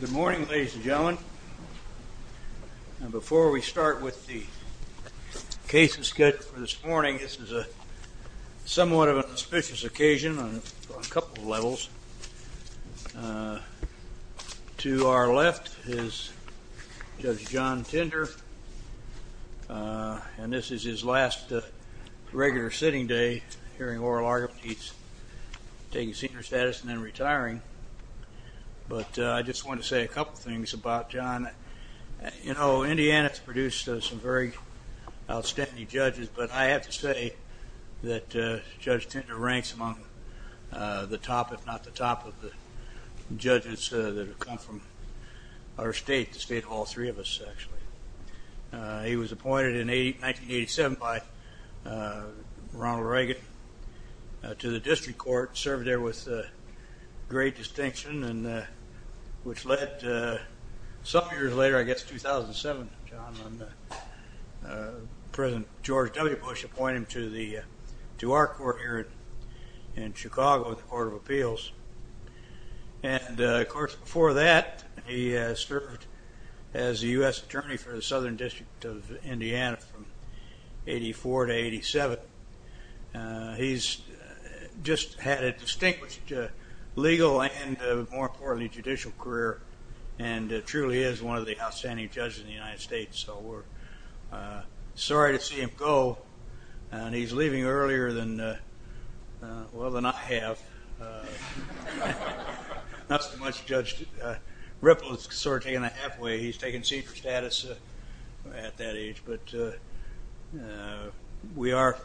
Good morning ladies and gentlemen. And before we start with the case of schedule for this morning, this is a somewhat of an auspicious occasion on a couple of levels. To our left is Judge John Tinder, and this is his last regular sitting day hearing oral status and then retiring. But I just want to say a couple of things about John. You know, Indiana has produced some very outstanding judges, but I have to say that Judge Tinder ranks among the top, if not the top, of the judges that have come from our state, the state of all three of us actually. He was appointed in 1987 by Ronald Reagan to the district court, served there with great distinction, and which led some years later, I guess 2007, John, President George W. Bush appointed him to our court here in Chicago, the Court of Appeals. And of course before that, he served as a U.S. Attorney for the Southern District of Indiana from 84 to 87. He's just had a distinguished legal and, more importantly, judicial career and truly is one of the outstanding judges in the United States. So we're sorry to see him go, and he's leaving earlier than, well, than I have. Not so much Judge Ripple is sort of taking a halfway. He's taking seat for status at that age, but we are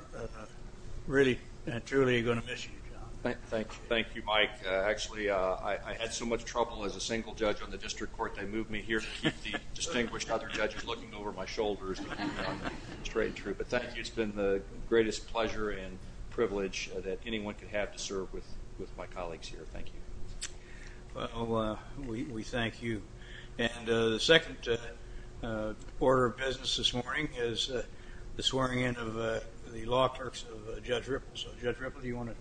really and truly going to miss you, John. Thank you, Mike. Actually, I had so much trouble as a single judge on the district court. They moved me here to keep the distinguished other judges looking over my shoulders, straight and true. But thank you. It's been the greatest pleasure and privilege that anyone could have to serve with my colleagues here. Thank you. Well, we thank you. And the second order of business this morning is the swearing in of the law clerks of Judge Ripple. So, Judge Ripple, do you want to?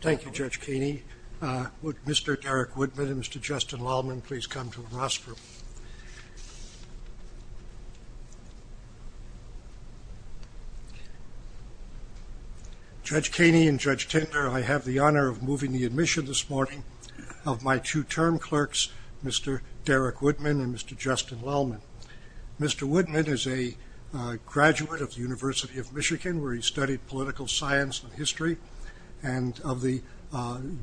Thank you, Judge Ripple. Judge Kaney and Judge Tinder, I have the honor of moving the admission this morning of my two term clerks, Mr. Derek Woodman and Mr. Justin Lallman. Mr. Woodman is a graduate of the University of Michigan where he studied political science and history and of the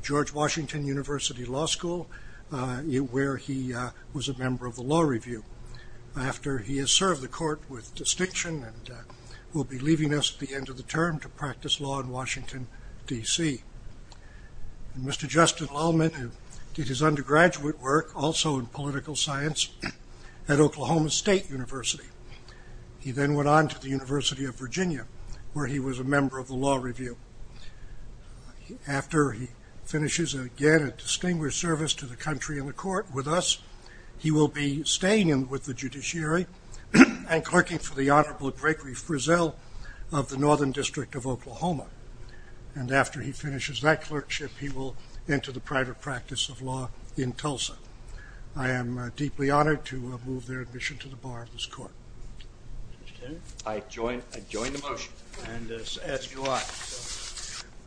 George Washington University Law School where he was a member of the Law Review. After he has served the court with distinction and will be leaving us at the end of the term to practice law in Washington, D.C. Mr. Justin Lallman did his undergraduate work also in political science at Oklahoma State University. He then went on to the University of Virginia where he was a member of the Law Review. After he finishes again a distinguished service to the country in the court with us, he will be staying with the judiciary and clerking for the Honorable Gregory Frizzell of the Northern District of Oklahoma. And after he finishes that clerkship, he will enter the private practice of law in Tulsa. I am deeply honored to move their admission to the bar of this court. I join the motion. And ask you why?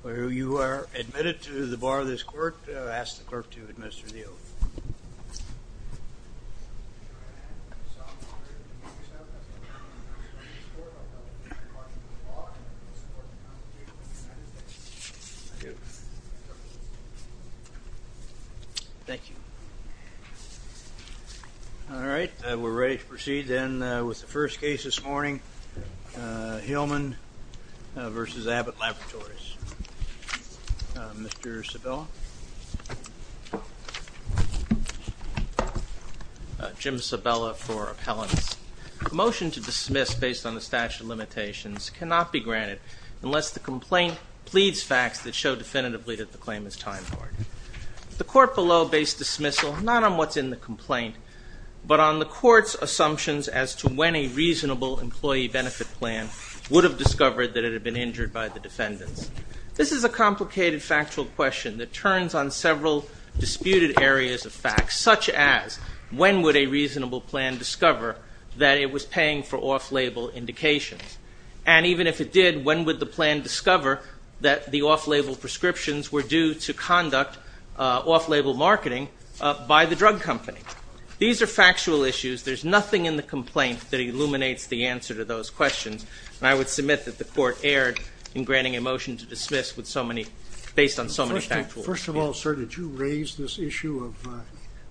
Well, you are admitted to the bar of this court. I ask the clerk to administer the oath. I do. Thank you. All right, we're ready to proceed then with the first case this morning, Hillman v. Abbott Laboratories. Mr. Sabella. Jim Sabella for appellants. A motion to dismiss based on the statute of limitations cannot be granted unless the complaint pleads facts that show definitively that the claim is time hard. The court below based dismissal not on what's in the complaint but on the court's assumptions as to when a reasonable employee benefit plan would have discovered that it had been injured by the defendants. This is a complicated factual question that turns on several disputed areas of facts, such as when would a reasonable plan discover that it was paying for off-label indications? And even if it did, when would the plan discover that the off-label prescriptions were due to conduct off-label marketing by the drug company? These are factual issues. There's nothing in the complaint that illuminates the answer to those questions. And I would submit that the court erred in granting a motion to dismiss based on so many factual issues. First of all, sir, did you raise this issue of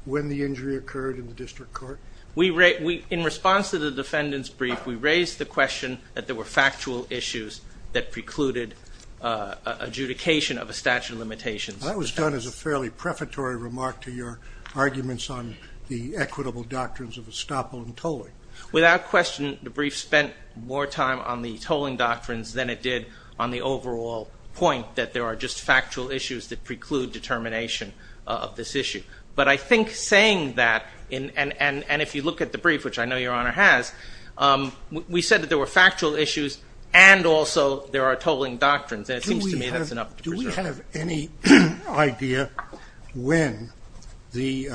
when the injury occurred in the district court? In response to the defendant's brief, we raised the question that there were factual issues that precluded adjudication of a statute of limitations. That was done as a fairly prefatory remark to your arguments on the equitable doctrines of estoppel and tolling. Without question, the brief spent more time on the tolling doctrines than it did on the overall point that there are just factual issues that preclude determination of this issue. But I think saying that, and if you look at the brief, which I know your honor has, we said that there were factual issues and also there are tolling doctrines. And do we have any idea when the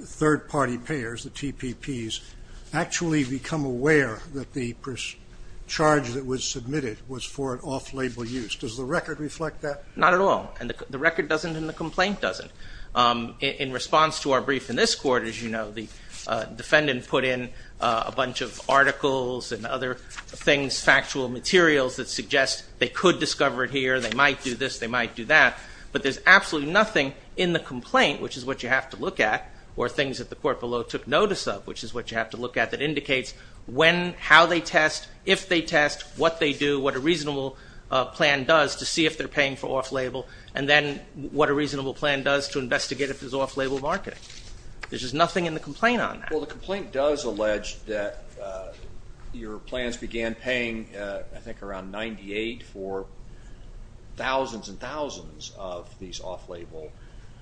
third party payers, the TPPs, actually become aware that the charge that was submitted was for an off-label use? Does the record reflect that? Not at all. And the record doesn't and the complaint doesn't. In response to our brief in this court, as you other things, factual materials that suggest they could discover it here, they might do this, they might do that. But there's absolutely nothing in the complaint, which is what you have to look at, or things that the court below took notice of, which is what you have to look at, that indicates how they test, if they test, what they do, what a reasonable plan does to see if they're paying for off-label, and then what a reasonable plan does to investigate if there's off-label marketing. There's just nothing in the complaint on that. Well the complaint does allege that your plans began paying, I think, around 98 for thousands and thousands of these off-label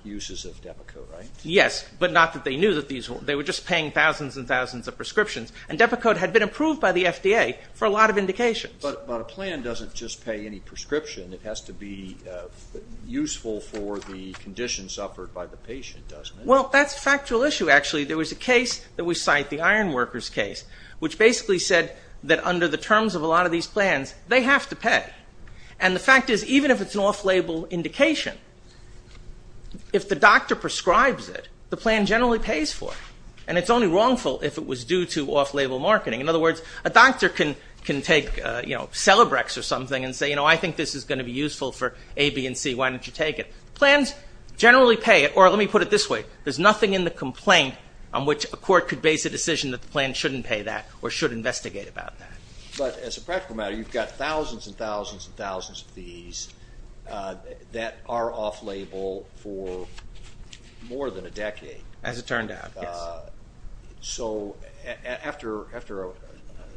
uses of Depakote, right? Yes, but not that they knew that these were, they were just paying thousands and thousands of prescriptions and Depakote had been approved by the FDA for a lot of indications. But a plan doesn't just pay any prescription, it has to be useful for the condition suffered by the patient, doesn't it? Well, that's a factual issue, actually. There was a case that we cite, the iron workers case, which basically said that under the terms of a lot of these plans, they have to pay. And the fact is, even if it's an off-label indication, if the doctor prescribes it, the plan generally pays for it, and it's only wrongful if it was due to off-label marketing. In other words, a doctor can take, you know, Celebrex or something and say, you know, I think this is going to be useful for A, B, and C, why don't you take it? Plans generally pay, or let me put it this way, there's nothing in the complaint on which a court could base a decision that the plan shouldn't pay that or should investigate about that. But as a practical matter, you've got thousands and thousands and thousands of these that are off-label for more than a decade. As it turned out, yes. So after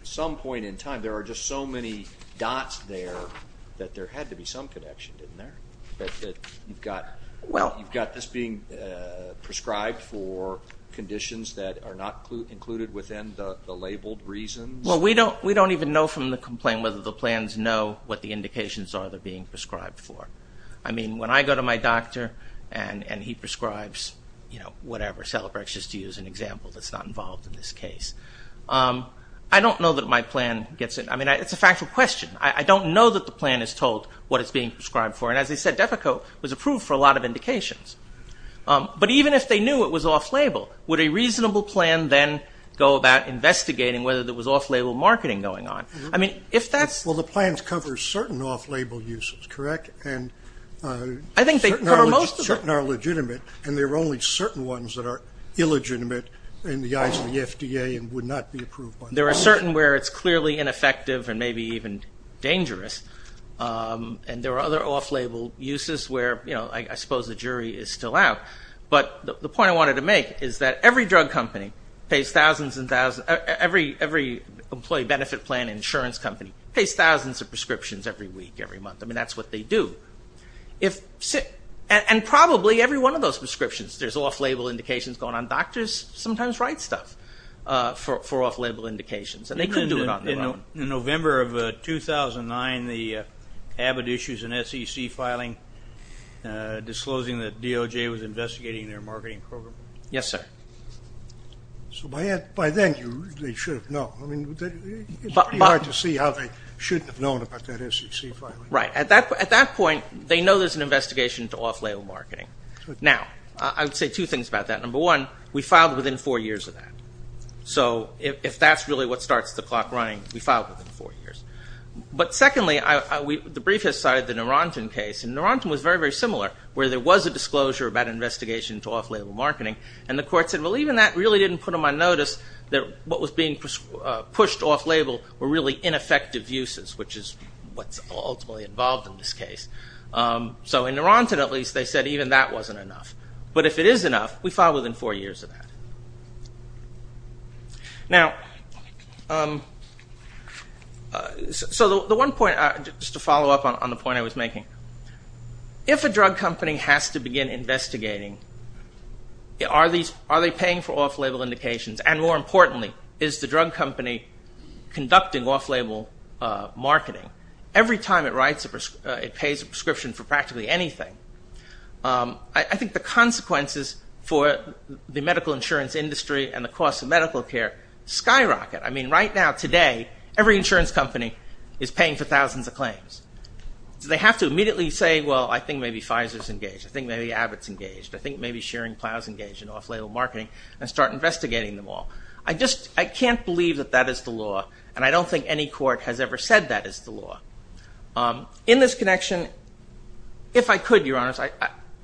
some point in time, there are just so many dots there that there had to be some connection, didn't there? That you've got this being prescribed for conditions that are not included within the labeled reasons? Well, we don't even know from the complaint whether the plans know what the indications are they're being prescribed for. I mean, when I go to my doctor and he prescribes, you know, whatever, Celebrex, just to use an example that's not involved in this case. I don't know that my plan gets it. I mean, it's a factual question. I don't know that the plan is told what it's being prescribed for. And as I said, Defco was approved for a lot of indications. But even if they knew it was off-label, would a reasonable plan then go about investigating whether there was off-label marketing going on? I mean, if that's... Well, the plans cover certain off-label uses, correct? I think they cover most of them. Certain are legitimate, and there are only certain ones that are illegitimate in the eyes of the FDA and would not be approved. There are certain where it's clearly ineffective and maybe even dangerous. And there are other off-label uses where, you know, I suppose the jury is still out. But the point I wanted to make is that every drug company pays thousands and thousands... Every employee benefit plan insurance company pays thousands of prescriptions every week, every month. I mean, that's what they do. And probably every one of those prescriptions, there's off-label indications going on. Doctors sometimes write stuff for off-label indications. And they could do it on their own. In November of 2009, the Abbott issues an SEC filing disclosing that DOJ was investigating their marketing program. Yes, sir. So by then, they should have known. I mean, it's pretty hard to see how they shouldn't have known about that SEC filing. Right. At that point, they know there's an investigation into off-label marketing. Now, I would say two things about that. Number one, we filed within four years of that. So if that's really what starts the clock running, we filed within four years. But secondly, the brief has cited the Narantan case. And Narantan was very, very similar, where there was a disclosure about investigation into off-label marketing. And the court said, well, even that really didn't put them on notice that what was being involved in this case. So in Narantan, at least, they said even that wasn't enough. But if it is enough, we filed within four years of that. So the one point, just to follow up on the point I was making, if a drug company has to begin investigating, are they paying for off-label indications? And more importantly, is the drug company conducting off-label marketing? Every time it pays a prescription for practically anything, I think the consequences for the medical insurance industry and the cost of medical care skyrocket. I mean, right now, today, every insurance company is paying for thousands of claims. So they have to immediately say, well, I think maybe Pfizer's engaged. I think maybe Abbott's engaged. I think maybe Shearing Plow's engaged in off-label marketing, and start investigating them all. I can't believe that that is the law. And I don't think any court has ever said that is the law. In this connection, if I could, Your Honors,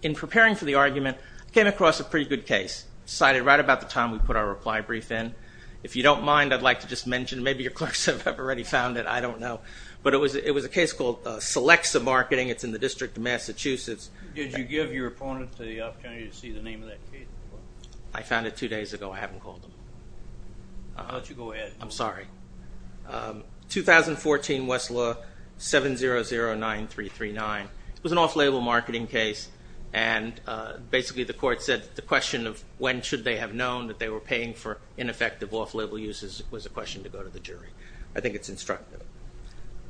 in preparing for the argument, I came across a pretty good case cited right about the time we put our reply brief in. If you don't mind, I'd like to just mention, maybe your clerks have already found it. I don't know. But it was a case called Selexa Marketing. It's in the District of Massachusetts. Did you give your opponent the opportunity to see the name of that case? I found it two days ago. I haven't called him. I'll let you go ahead. I'm sorry. 2014 Westlaw 7009339. It was an off-label marketing case. And basically, the court said the question of when should they have known that they were paying for ineffective off-label uses was a question to go to the jury. I think it's instructive.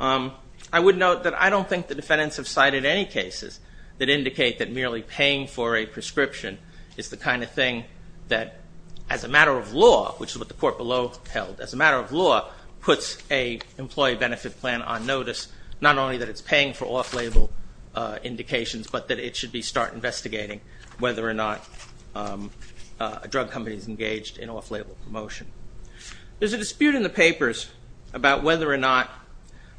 I would note that I don't think the defendants have cited any cases that indicate that merely paying for a prescription is the kind of thing that, as a matter of law, which is what the court below held, as a matter of law, puts a employee benefit plan on notice, not only that it's paying for off-label indications, but that it should be start investigating whether or not a drug company is engaged in off-label promotion. There's a dispute in the papers about whether or not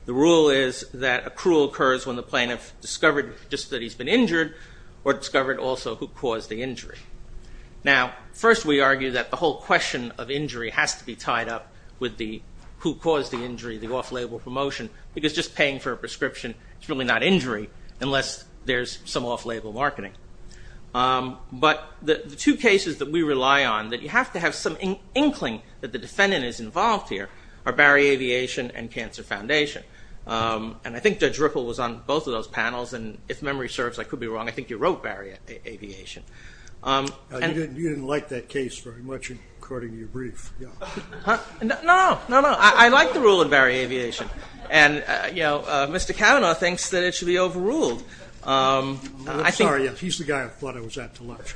the rule is that accrual occurs when the plaintiff discovered just that he's been injured or discovered also who caused the injury. Now, first we argue that the whole question of injury has to be tied up with the who caused the injury, the off-label promotion, because just paying for a prescription is really not injury unless there's some off-label marketing. But the two cases that we rely on, that you have to have some inkling that the defendant is involved here, are Barry Aviation and Cancer Foundation. And I think Judge Ripple was on both of those panels, and if memory serves, I could be wrong. I think you wrote Barry Aviation. You didn't like that case very much according to your brief. No, no. I like the rule in Barry Aviation. And, you know, Mr. Kavanaugh thinks that it should be overruled. I'm sorry. He's the guy I thought I was at to lunch.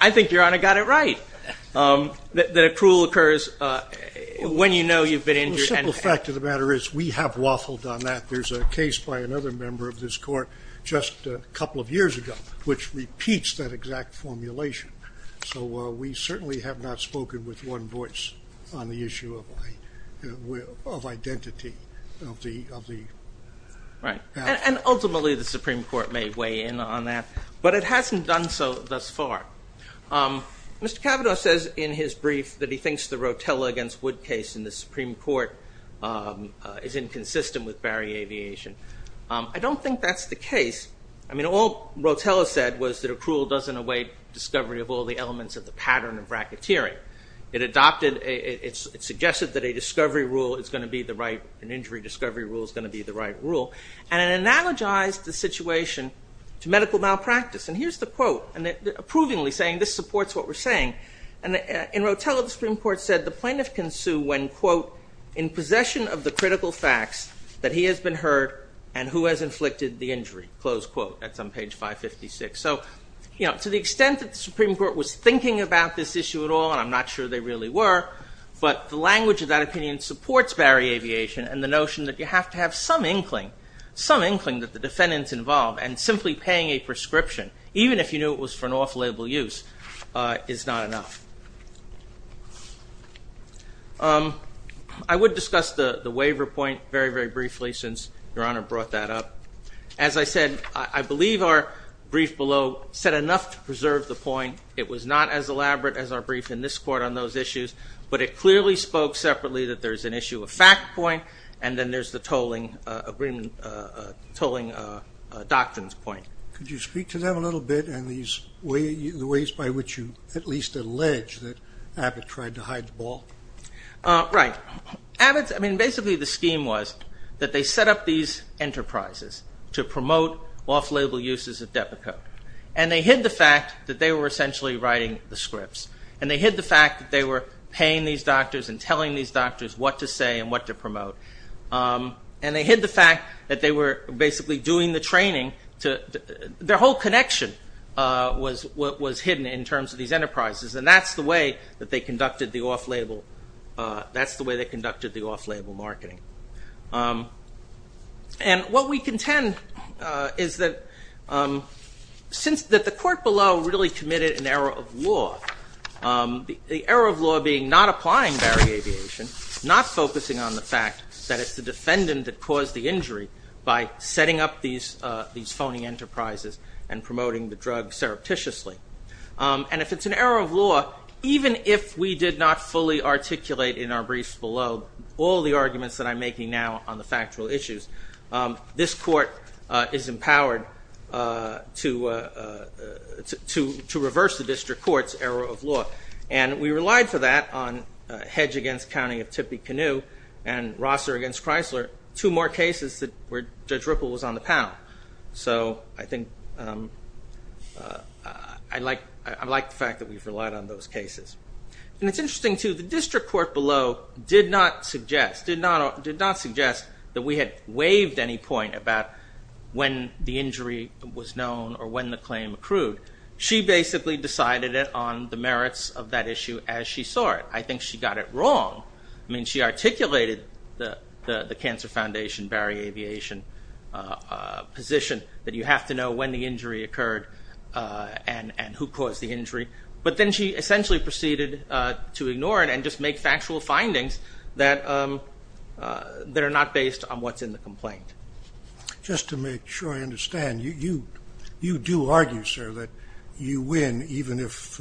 I think Your Honor got it right, that accrual occurs when you know you've been injured. The simple fact of the matter is we have waffled on that. There's a case by another member of this court just a couple of years ago, which repeats that exact formulation. So we certainly have not spoken with one voice on the issue of identity. Right. And ultimately the Supreme Court may weigh in on that, but it hasn't done so thus far. Mr. Kavanaugh says in his brief that he thinks the accrual is inconsistent with Barry Aviation. I don't think that's the case. I mean, all Rotella said was that accrual doesn't await discovery of all the elements of the pattern of racketeering. It adopted, it suggested that a discovery rule is going to be the right, an injury discovery rule is going to be the right rule, and it analogized the situation to medical malpractice. And here's the quote, approvingly saying this supports what we're saying. And in Rotella, the Supreme Court said the plaintiff can sue when, quote, in possession of the critical facts that he has been hurt and who has inflicted the injury, close quote. That's on page 556. So, you know, to the extent that the Supreme Court was thinking about this issue at all, and I'm not sure they really were, but the language of that opinion supports Barry Aviation and the notion that you have to have some inkling, some inkling that the defendants involved and simply paying a prescription, even if you knew it was for an off-label use, is not enough. I would discuss the waiver point very, very briefly since Your Honor brought that up. As I said, I believe our brief below said enough to preserve the point. It was not as elaborate as our brief in this court on those issues, but it clearly spoke separately that there's an issue of fact point and then there's the tolling agreement, tolling doctrines point. Could you speak to them a little bit and the ways by which you at least allege that Abbott tried to hide the ball? Right. Abbott's, I mean, basically the scheme was that they set up these enterprises to promote off-label uses of debit code. And they hid the fact that they were essentially writing the scripts. And they hid the fact that they were paying these doctors and telling these doctors what to say and what to promote. And they hid the fact that they were basically doing the training to, their whole connection was hidden in terms of these enterprises. And that's the way that they conducted the off-label, that's the way they conducted the off-label marketing. And what we contend is that since, that the court below really committed an error of law, the error of law being not applying Barry Aviation, not focusing on the fact that it's the defendant that caused the injury by setting up these phony enterprises and promoting the drug surreptitiously. And if it's an error of law, even if we did not fully articulate in our briefs below all the arguments that I'm making now on the factual issues, this court is empowered to reverse the district court's error of law. And we relied for that on Hedge against County of Tippecanoe and Rosser against Chrysler, two more cases where Judge Ripple was on the panel. So I think, I like the fact that we've relied on those cases. And it's interesting too, the district court below did not suggest, did not suggest that we had waived any point about when the injury was known or when the claim accrued. She basically decided it on the merits of that issue as she saw it. I think she got it wrong. I mean, she articulated the Cancer Foundation, Barry Aviation position that you have to know when the injury occurred and who caused the injury. But then she essentially proceeded to ignore it and just make factual findings that are not based on what's in the complaint. Just to make sure I understand, you do argue, sir, that you win, even if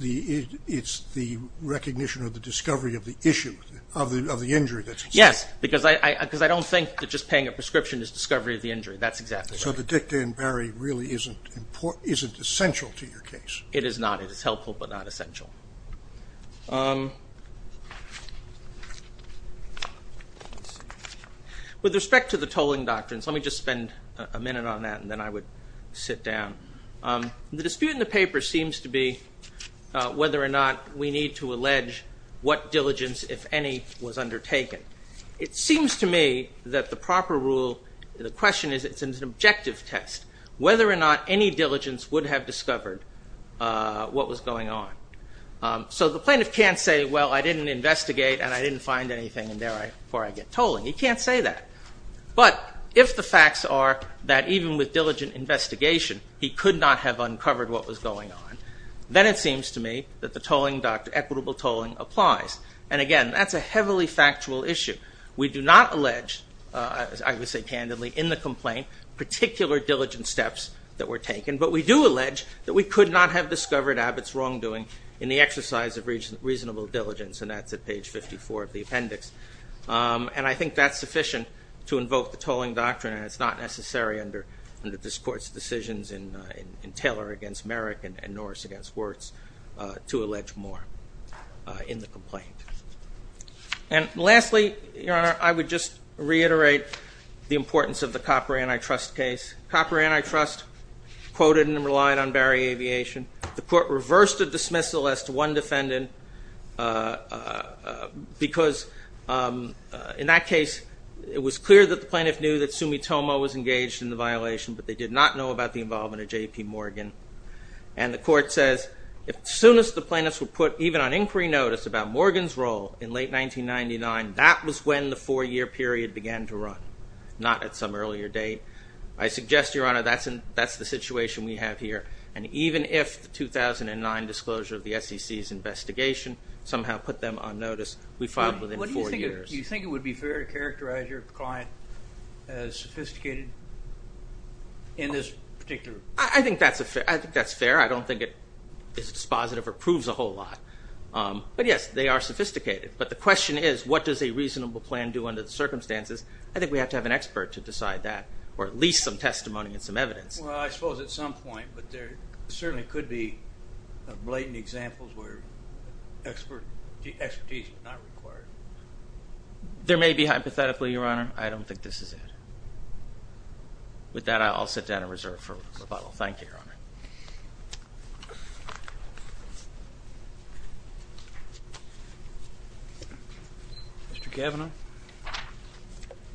it's the recognition of the discovery of the issue of the injury. Yes, because I don't think that just paying a prescription is discovery of the injury. That's exactly right. So the dicta in Barry really isn't essential to your case. With respect to the tolling doctrines, let me just spend a minute on that and then I would sit down. The dispute in the paper seems to be whether or not we need to allege what diligence, if any, was undertaken. It seems to me that the proper rule, the question is, it's an objective test, whether or not any diligence would have discovered what was going on. So the plaintiff can't say, well, I didn't investigate and I didn't find anything and therefore I get tolling. He can't say that. But if the facts are that even with diligent investigation he could not have uncovered what was going on, then it seems to me that the tolling doctrine, equitable tolling, applies. And again, that's a heavily factual issue. We do not allege, I would say candidly, in the complaint particular diligent steps that were taken. But we do allege that we could not have discovered Abbott's wrongdoing in the exercise of reasonable diligence. And that's at page 54 of the appendix. And I think that's sufficient to invoke the tolling doctrine and it's not necessary under this court's decisions in Taylor against Merrick and Norris against Wirtz to allege more in the complaint. And lastly, Your Honor, I would just reiterate the importance of the Copper Antitrust case. Copper Antitrust quoted and relied on Barry Aviation. The court reversed a dismissal as to one defendant because in that case it was clear that the plaintiff knew that Sumitomo was engaged in the violation but they did not know about the involvement of J.P. Morgan. And the inquiry notice about Morgan's role in late 1999, that was when the four-year period began to run, not at some earlier date. I suggest, Your Honor, that's the situation we have here. And even if the 2009 disclosure of the SEC's investigation somehow put them on notice, we filed within four years. Do you think it would be fair to characterize your client as sophisticated in this particular? I think that's fair. I don't think it is dispositive or proves a whole lot. But yes, they are sophisticated. But the question is what does a reasonable plan do under the circumstances? I think we have to have an expert to decide that, or at least some testimony and some evidence. Well, I suppose at some point, but there certainly could be blatant examples where expertise is not required. There may be hypothetically, Your Honor. I don't think this is it. With that, I'll sit down and reserve for rebuttal. Thank you, Your Honor. Mr. Cavanaugh?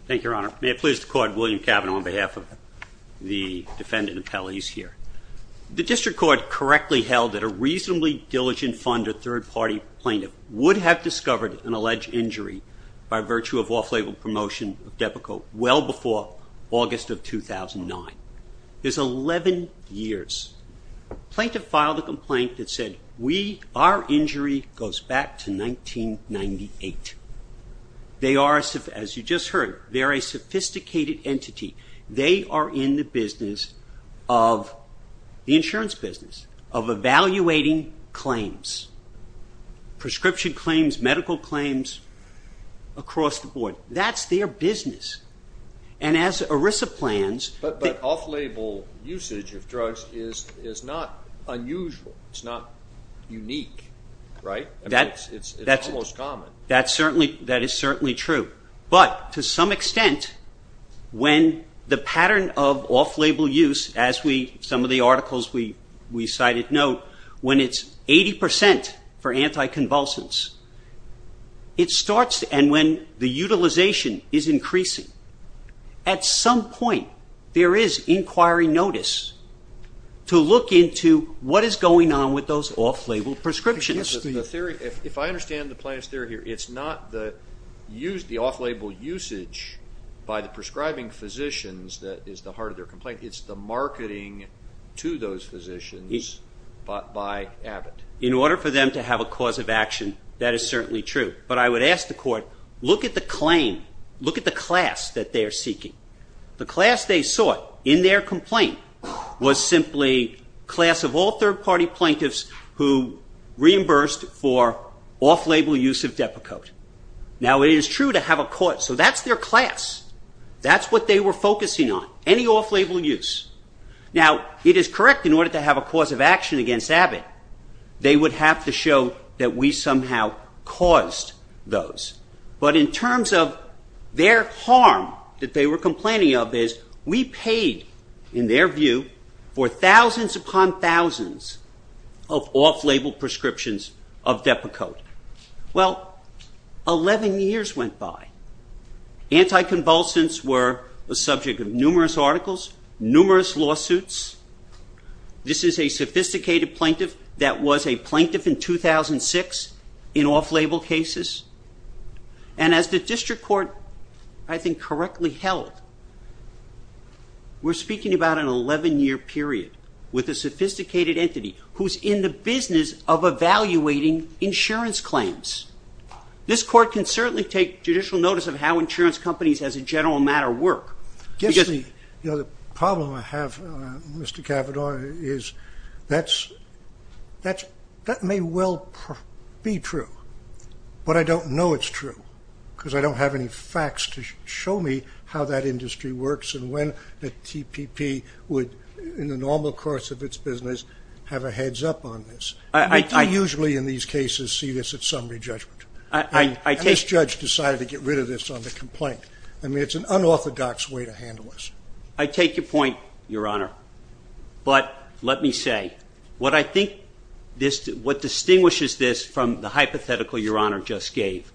Thank you, Your Honor. May it please the Court, William Cavanaugh on behalf of the defendant and appellees here. The District Court correctly held that a reasonably diligent funder third-party plaintiff would have discovered an alleged injury by virtue of off-label promotion of Depakote well before August of 2009. There's 11 years. Plaintiff filed a complaint that said our injury goes back to 1998. As you just heard, they're a sophisticated entity. They are in the insurance business of evaluating claims, prescription claims, medical claims across the board. That's their business. As ERISA plans... But off-label usage of drugs is not unusual. It's not unique. It's almost common. That is certainly true. But to some extent, when the pattern of off-label use, as some of the articles we cited note, when it's 80 percent for anticonvulsants, it starts... And when the utilization is increasing, at some point there is inquiry notice to look into what is going on with those off-label prescriptions. The theory... If I understand the plaintiff's theory here, it's not the off-label usage by the prescribing physicians that is the heart of their complaint. It's the marketing to those physicians by Abbott. In order for them to have a cause of action is certainly true. But I would ask the court, look at the claim, look at the class that they are seeking. The class they sought in their complaint was simply class of all third-party plaintiffs who reimbursed for off-label use of Depakote. Now, it is true to have a cause... So that's their class. That's what they were focusing on, any off-label use. Now, it is correct in order to have a cause of action against Abbott, they would have to show that we somehow caused those. But in terms of their harm that they were complaining of is we paid, in their view, for thousands upon thousands of off-label prescriptions of Depakote. Well, 11 years went by. Anticonvulsants were a subject of numerous articles, numerous lawsuits. This is a sophisticated plaintiff that was a plaintiff in 2006 in off-label cases. And as the district court I think correctly held, we're speaking about an 11-year period with a sophisticated entity who's in the business of evaluating insurance claims. This court can certainly take judicial notice of how insurance companies as a general matter work. The problem I have, Mr. Cavanaugh, is that may well be true, but I don't know it's true because I don't have any facts to show me how that industry works and when the TPP would, in the normal course of its business, have a heads-up on this. I don't usually in these cases see this at summary judgment. I think this judge decided to get rid of this on the complaint. I mean, it's an unorthodox way to handle this. I take your point, Your Honor, but let me say what I think this what distinguishes this from the hypothetical Your Honor just gave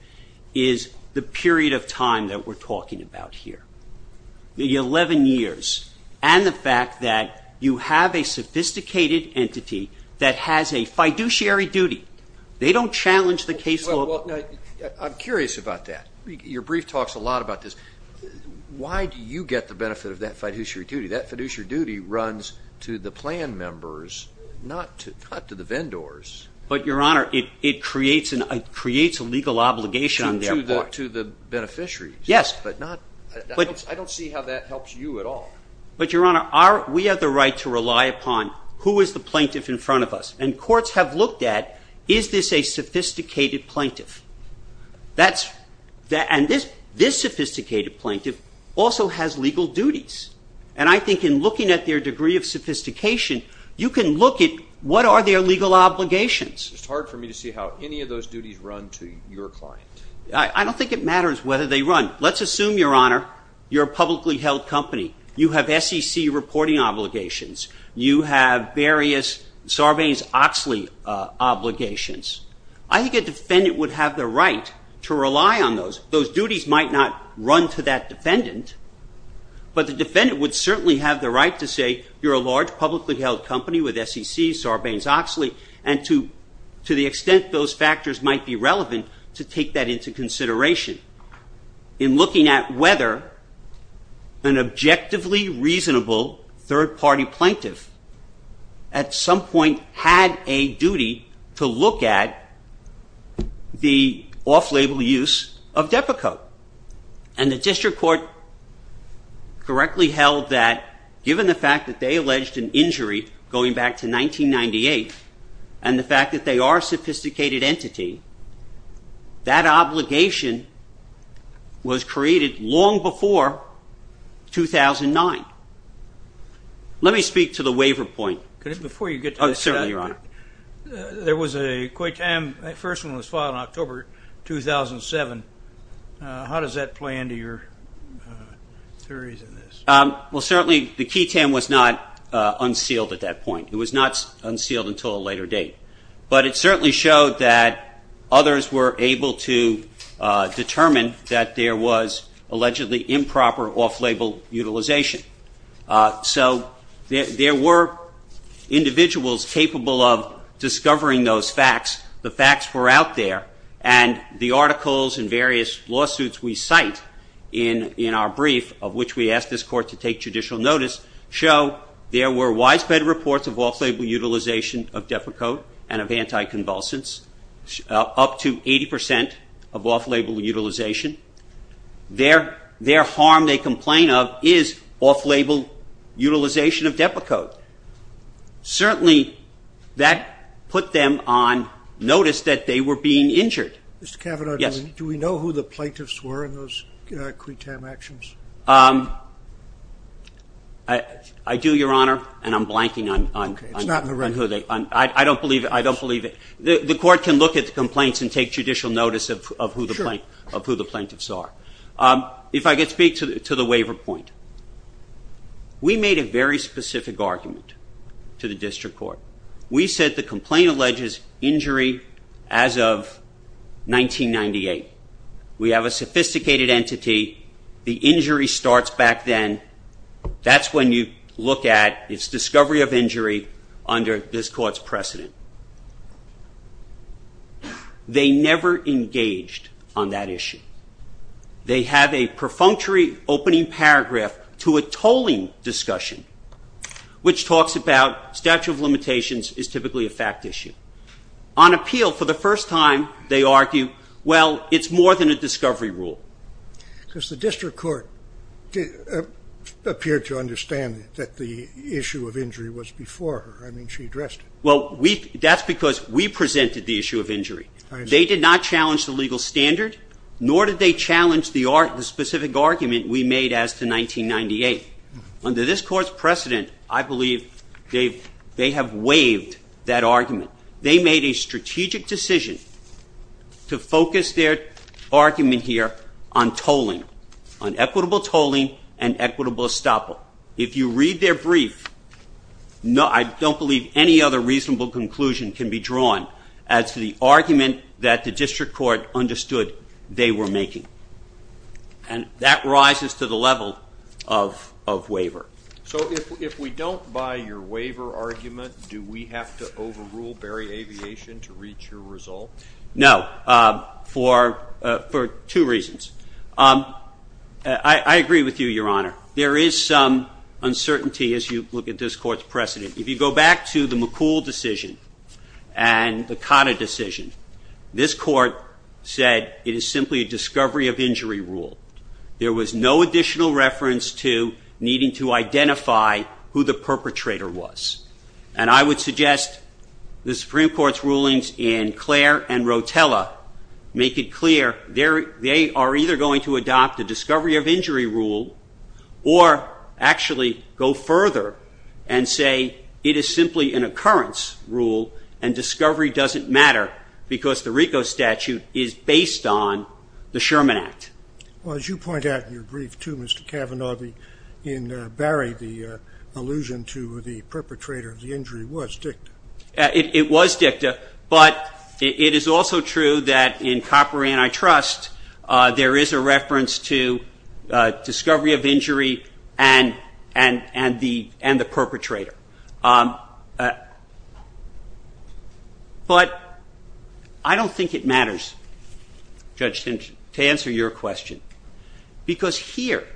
is the period of time that we're talking about here. The 11 years and the fact that you have a sophisticated entity that has a fiduciary duty. They don't challenge the case law. I'm curious about that. Your brief talks a lot about this. Why do you get the benefit of that fiduciary duty? That fiduciary duty runs to the plan members, not to the vendors. But Your Honor, it creates a legal obligation on their part. To the beneficiaries. Yes. But I don't see how that helps you at all. Your Honor, we have the right to rely upon who is the plaintiff in front of us. And courts have looked at, is this a sophisticated plaintiff? And this sophisticated plaintiff also has legal duties. And I think in looking at their degree of sophistication, you can look at what are their legal obligations. It's hard for me to see how any of those duties run to your client. I don't think it matters whether they run. Let's assume, Your Honor, you're a publicly held company. You have SEC reporting obligations. You have various Sarbanes-Oxley obligations. I think a defendant would have the right to rely on those. Those duties might not run to that defendant. But the defendant would certainly have the right to say, you're a large publicly held company with SEC, Sarbanes-Oxley. And to the extent those factors might be relevant, to take that into consideration in looking at whether an objectively reasonable third party plaintiff at some point had a duty to look at the off-label use of DEPA code. And the district court correctly held that, given the fact that they alleged an injury going back to 1998, and the fact that they are a sophisticated entity, that obligation was created long before 2009. Let me speak to the waiver point. Before you get to that, Your Honor, there was a qui tam. That first one was filed in October 2007. How does that play into your theories in this? Well, certainly the qui tam was not unsealed at that point. It was not unsealed until a later date. But it certainly showed that others were able to determine that there was allegedly improper off-label utilization. So there were individuals capable of discovering those facts. The facts were out there. And the articles and various lawsuits we cite in our brief, of which we take judicial notice, show there were widespread reports of off-label utilization of DEPA code and of anti-convulsants, up to 80% of off-label utilization. Their harm they complain of is off-label utilization of DEPA code. Certainly that put them on notice that they were being injured. Mr. Cavanaugh, do we know who the plaintiffs were in those qui tam actions? I do, Your Honor. And I'm blanking on who they were. I don't believe it. The court can look at the complaints and take judicial notice of who the plaintiffs are. If I could speak to the waiver point. We made a very specific argument to the district court. We said the complaint alleges injury as of 1998. We have a sophisticated entity. The injury starts back then. That's when you look at its discovery of injury under this court's precedent. They never engaged on that issue. They have a perfunctory opening paragraph to a tolling discussion, which talks about statute of limitations is typically a fact issue. On appeal, for the first time, they argue, well, it's more than a discovery rule. Because the district court appeared to understand that the issue of injury was before her. I mean, she addressed it. That's because we presented the issue of injury. They did not challenge the legal standard, nor did they challenge the specific argument we made as to 1998. Under this court's precedent, I believe they have waived that argument. They made a strategic decision to focus their argument here on tolling, on equitable tolling and equitable estoppel. If you read their brief, I don't believe any other reasonable conclusion can be drawn as to the argument that the district court understood they were making. And that rises to the level of waiver. So if we don't buy your waiver argument, do we have to overrule Barry Aviation to reach your result? No. For two reasons. I agree with you, Your Honor. There is some uncertainty as you look at this court's precedent. If you go back to the McCool decision and the Cotta decision, this court said it is simply a discovery of injury rule. There was no additional reference to needing to identify who the perpetrator was. And I would suggest the Supreme Court's rulings in Clare and Rotella make it clear they are either going to adopt a discovery of injury rule or actually go further and say it is simply an occurrence rule and discovery doesn't matter because the RICO statute is based on the Sherman Act. Well, as you point out in your brief too, Mr. Cavanaugh, in Barry the allusion to the perpetrator of the injury was dicta. It was dicta. But it is also true that in Copper and I Trust there is a reference to discovery of injury and the perpetrator. But I don't think it matters, Judge Stinson, to answer your question because here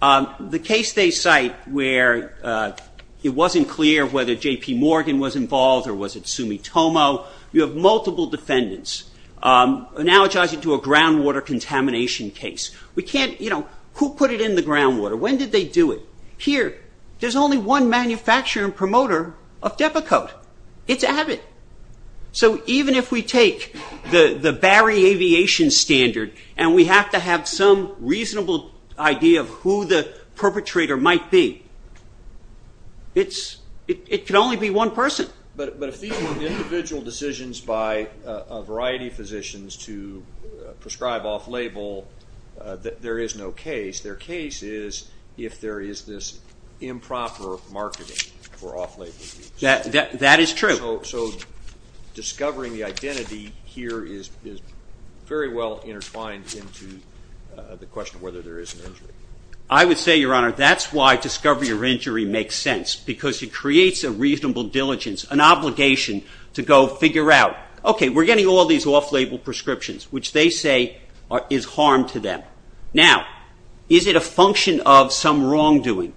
the case they cite where it wasn't clear whether JP Morgan was involved or was it Sumitomo, you have multiple defendants analogizing to a groundwater contamination case. Who put it in the groundwater? When did they do it? Here there is only one manufacturer and promoter of Depakote. It is Abbott. So even if we take the Barry aviation standard and we have to have some reasonable idea of who the perpetrator might be, it could only be one person. But if these were individual decisions by a variety of physicians to prescribe off label, there is no case. Their case is if there is this improper marketing for off label. That is true. So discovering the identity here is very well intertwined into the question of whether there is an injury. I would say, Your Honor, that's why discovery of injury makes sense because it creates a reasonable diligence, an obligation to go figure out, okay, we're getting all these off label prescriptions which they say is harm to them. Now, is it a function of some wrongdoing?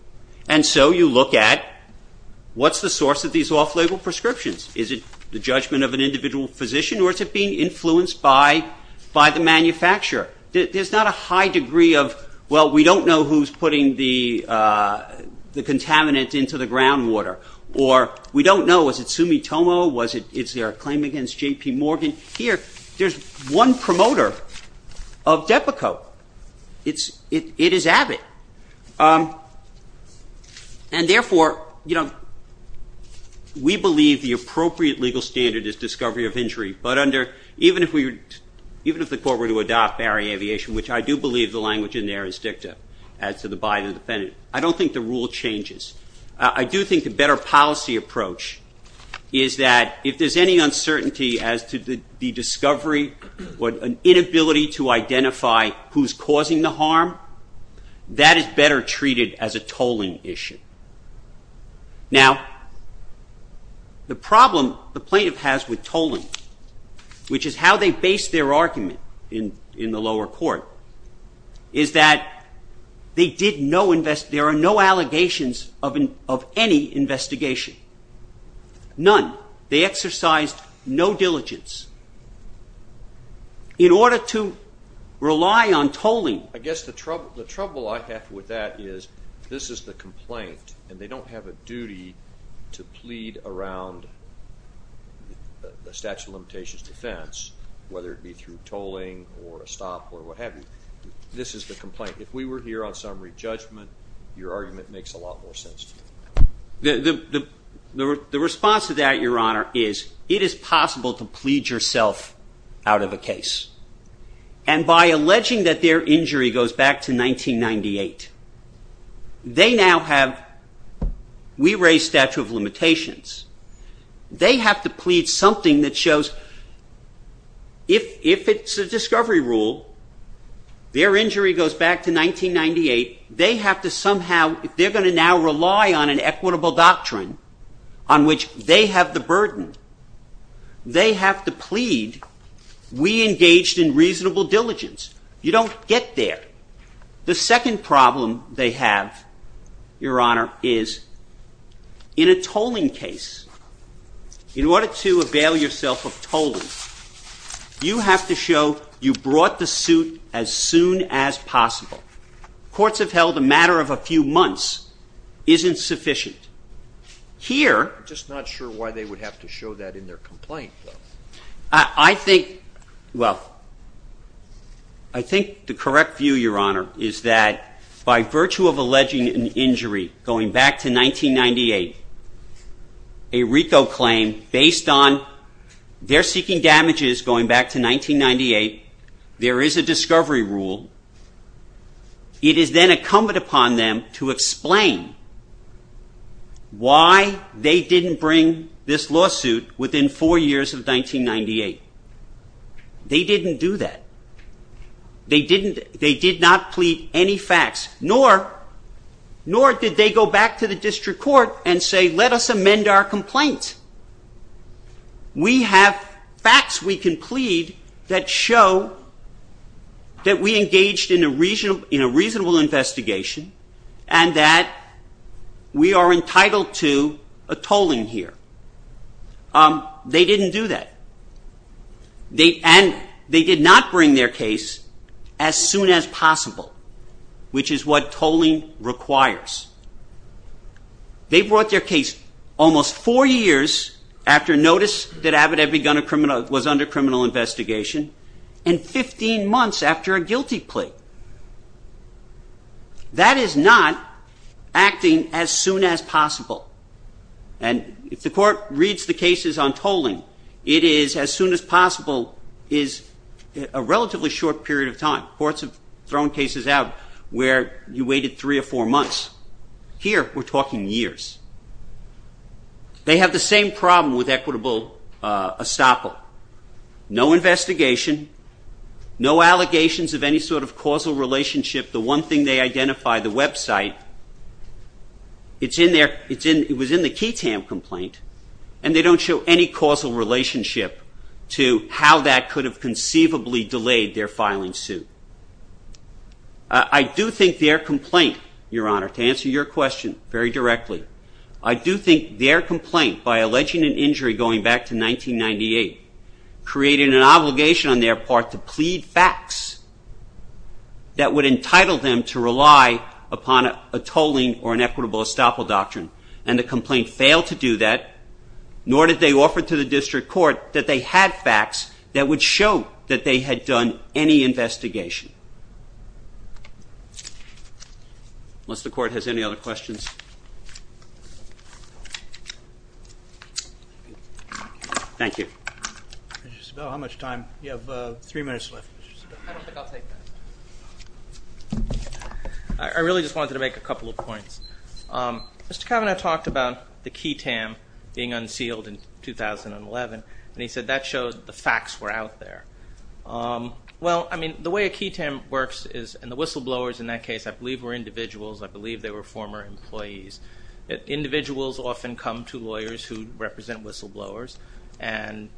And so you look at what's the source of these off label prescriptions? Is it the judgment of an individual physician or is it being influenced by the manufacturer? There is not a high degree of, well, we don't know who is putting the contaminant into the groundwater or we don't know, was it Sumitomo? Is there a claim against JP Morgan? Here, there is one promoter of Depakote. It is Abbott. And therefore, we believe the appropriate legal standard is discovery of injury. But even if the court were to adopt Barry Aviation, which I do believe the language in there is dicta as to the by the defendant, I don't think the rule changes. I do think a better policy approach is that if there's any uncertainty as to the discovery or an inability to identify who's causing the harm, that is better treated as a tolling issue. Now, the problem the plaintiff has with tolling, which is how they base their argument in the lower court, is that there are no allegations of any investigation. None. They exercised no diligence. In order to rely on tolling... I guess the trouble I have with that is this is the complaint and they don't have a duty to plead around a statute of limitations defense, whether it be through tolling or a stop or what have you. This is the complaint. If we were here on summary judgment, your argument makes a lot more sense to me. The response to that, Your Honor, is it is possible to plead yourself out of a case. And by alleging that their injury goes back to 1998, they now have, we raise statute of limitations. They have to plead something that shows if it's a discovery rule, their injury goes back to 1998, they have to somehow, if they're going to now rely on an equitable doctrine on which they have the burden, they have to plead, we engaged in reasonable diligence. You don't get there. The second problem they have, Your Honor, is in a tolling case, in order to avail yourself of tolling, you have to show you brought the suit as soon as possible. Courts have held a matter of a few months isn't sufficient. Here... I'm just not sure why they would have to show that in their By virtue of alleging an injury going back to 1998, a RICO claim based on they're seeking damages going back to 1998, there is a discovery rule, it is then incumbent upon them to explain why they didn't bring this lawsuit within four years of 1998. They didn't do that. They did not plead any facts, nor did they go back to the district court and say, let us amend our complaint. We have facts we can plead that show that we engaged in a reasonable investigation and that we are entitled to a tolling here. They didn't do that. They did not bring their case as soon as possible, which is what tolling requires. They brought their case almost four years after notice that Abbott was under criminal investigation and 15 months after a guilty plea. That is not acting as soon as possible. And if the court reads the cases on tolling, it is as soon as possible is a relatively short period of time. Courts have thrown cases out where you waited three or four months. Here, we're talking years. They have the same problem with equitable estoppel. No investigation, no allegations of any sort of causal relationship. The one thing they identify, the website, it was in the Keetam complaint, and they don't show any causal relationship to how that could have conceivably delayed their filing suit. I do think their complaint, Your Honor, to answer your question very directly, I do think their complaint by alleging an injury going back to 1998 created an obligation on their part to plead facts that would entitle them to rely upon a tolling or an equitable estoppel doctrine. And the complaint failed to do that, nor did they offer to the district court that they had facts that would show that they had done any investigation. Unless the court has any other questions. Thank you. How much time? You have three minutes left. I don't think I'll take that. I really just wanted to make a couple of points. Mr. Kavanaugh talked about the Keetam being unsealed in 2011, and he said that showed the facts were out there. Well, I mean, the way a Keetam works is, and the whistleblowers in that case, I believe were individuals. I believe they were former employees. Individuals often come to lawyers who represent whistleblowers and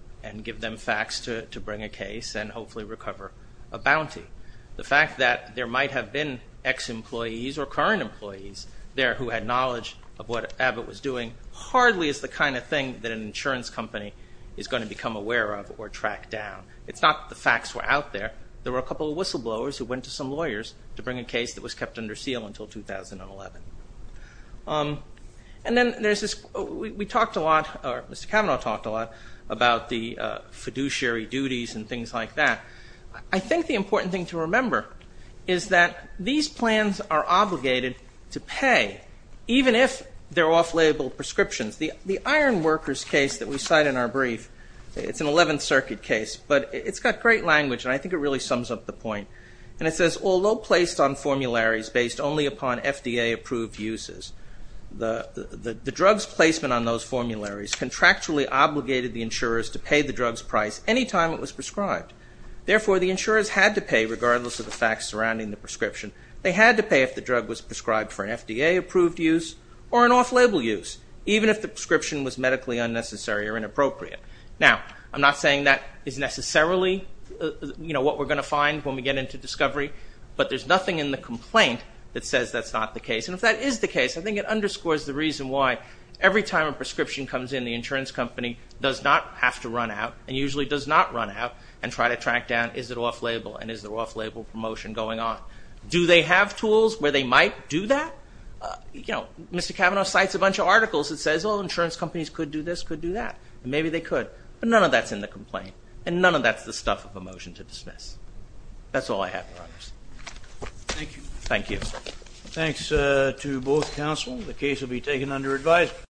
give them facts to bring a case and hopefully recover a bounty. The fact that there might have been ex-employees or current employees there who had knowledge of what Abbott was doing hardly is the kind of thing that an insurance company is going to become aware of or track down. It's not that the facts were out there. There were a couple of whistleblowers who went to some lawyers to bring a case that was kept under seal until 2011. And then there's this, we talked a lot, or Mr. Kavanaugh talked a lot about the fiduciary duties and things like that. I think the important thing to remember is that these plans are obligated to pay, even if they're off-label prescriptions. The Iron Workers case that we cite in our brief, it's an 11th Circuit case, but it's got great language, and I think it really sums up the point. And it says, although placed on formularies based only upon FDA-approved uses, the drug's placement on those formularies contractually obligated the insurers to pay the drug's price any time it was prescribed. Therefore, the insurers had to pay, regardless of the facts surrounding the prescription. They had to pay if the drug was prescribed for an FDA-approved use or an off-label use, even if the prescription was medically unnecessary or inappropriate. Now, I'm not that is necessarily what we're going to find when we get into discovery, but there's nothing in the complaint that says that's not the case. And if that is the case, I think it underscores the reason why every time a prescription comes in, the insurance company does not have to run out, and usually does not run out, and try to track down, is it off-label, and is the off-label promotion going on? Do they have tools where they might do that? Mr. Kavanaugh cites a bunch of articles that says, oh, insurance companies could do this, could do that, and maybe they could, but none of that's in the complaint, and none of that's the stuff of a motion to dismiss. That's all I have. Thank you. Thank you. Thanks to both counsel. The case will be taken under advice.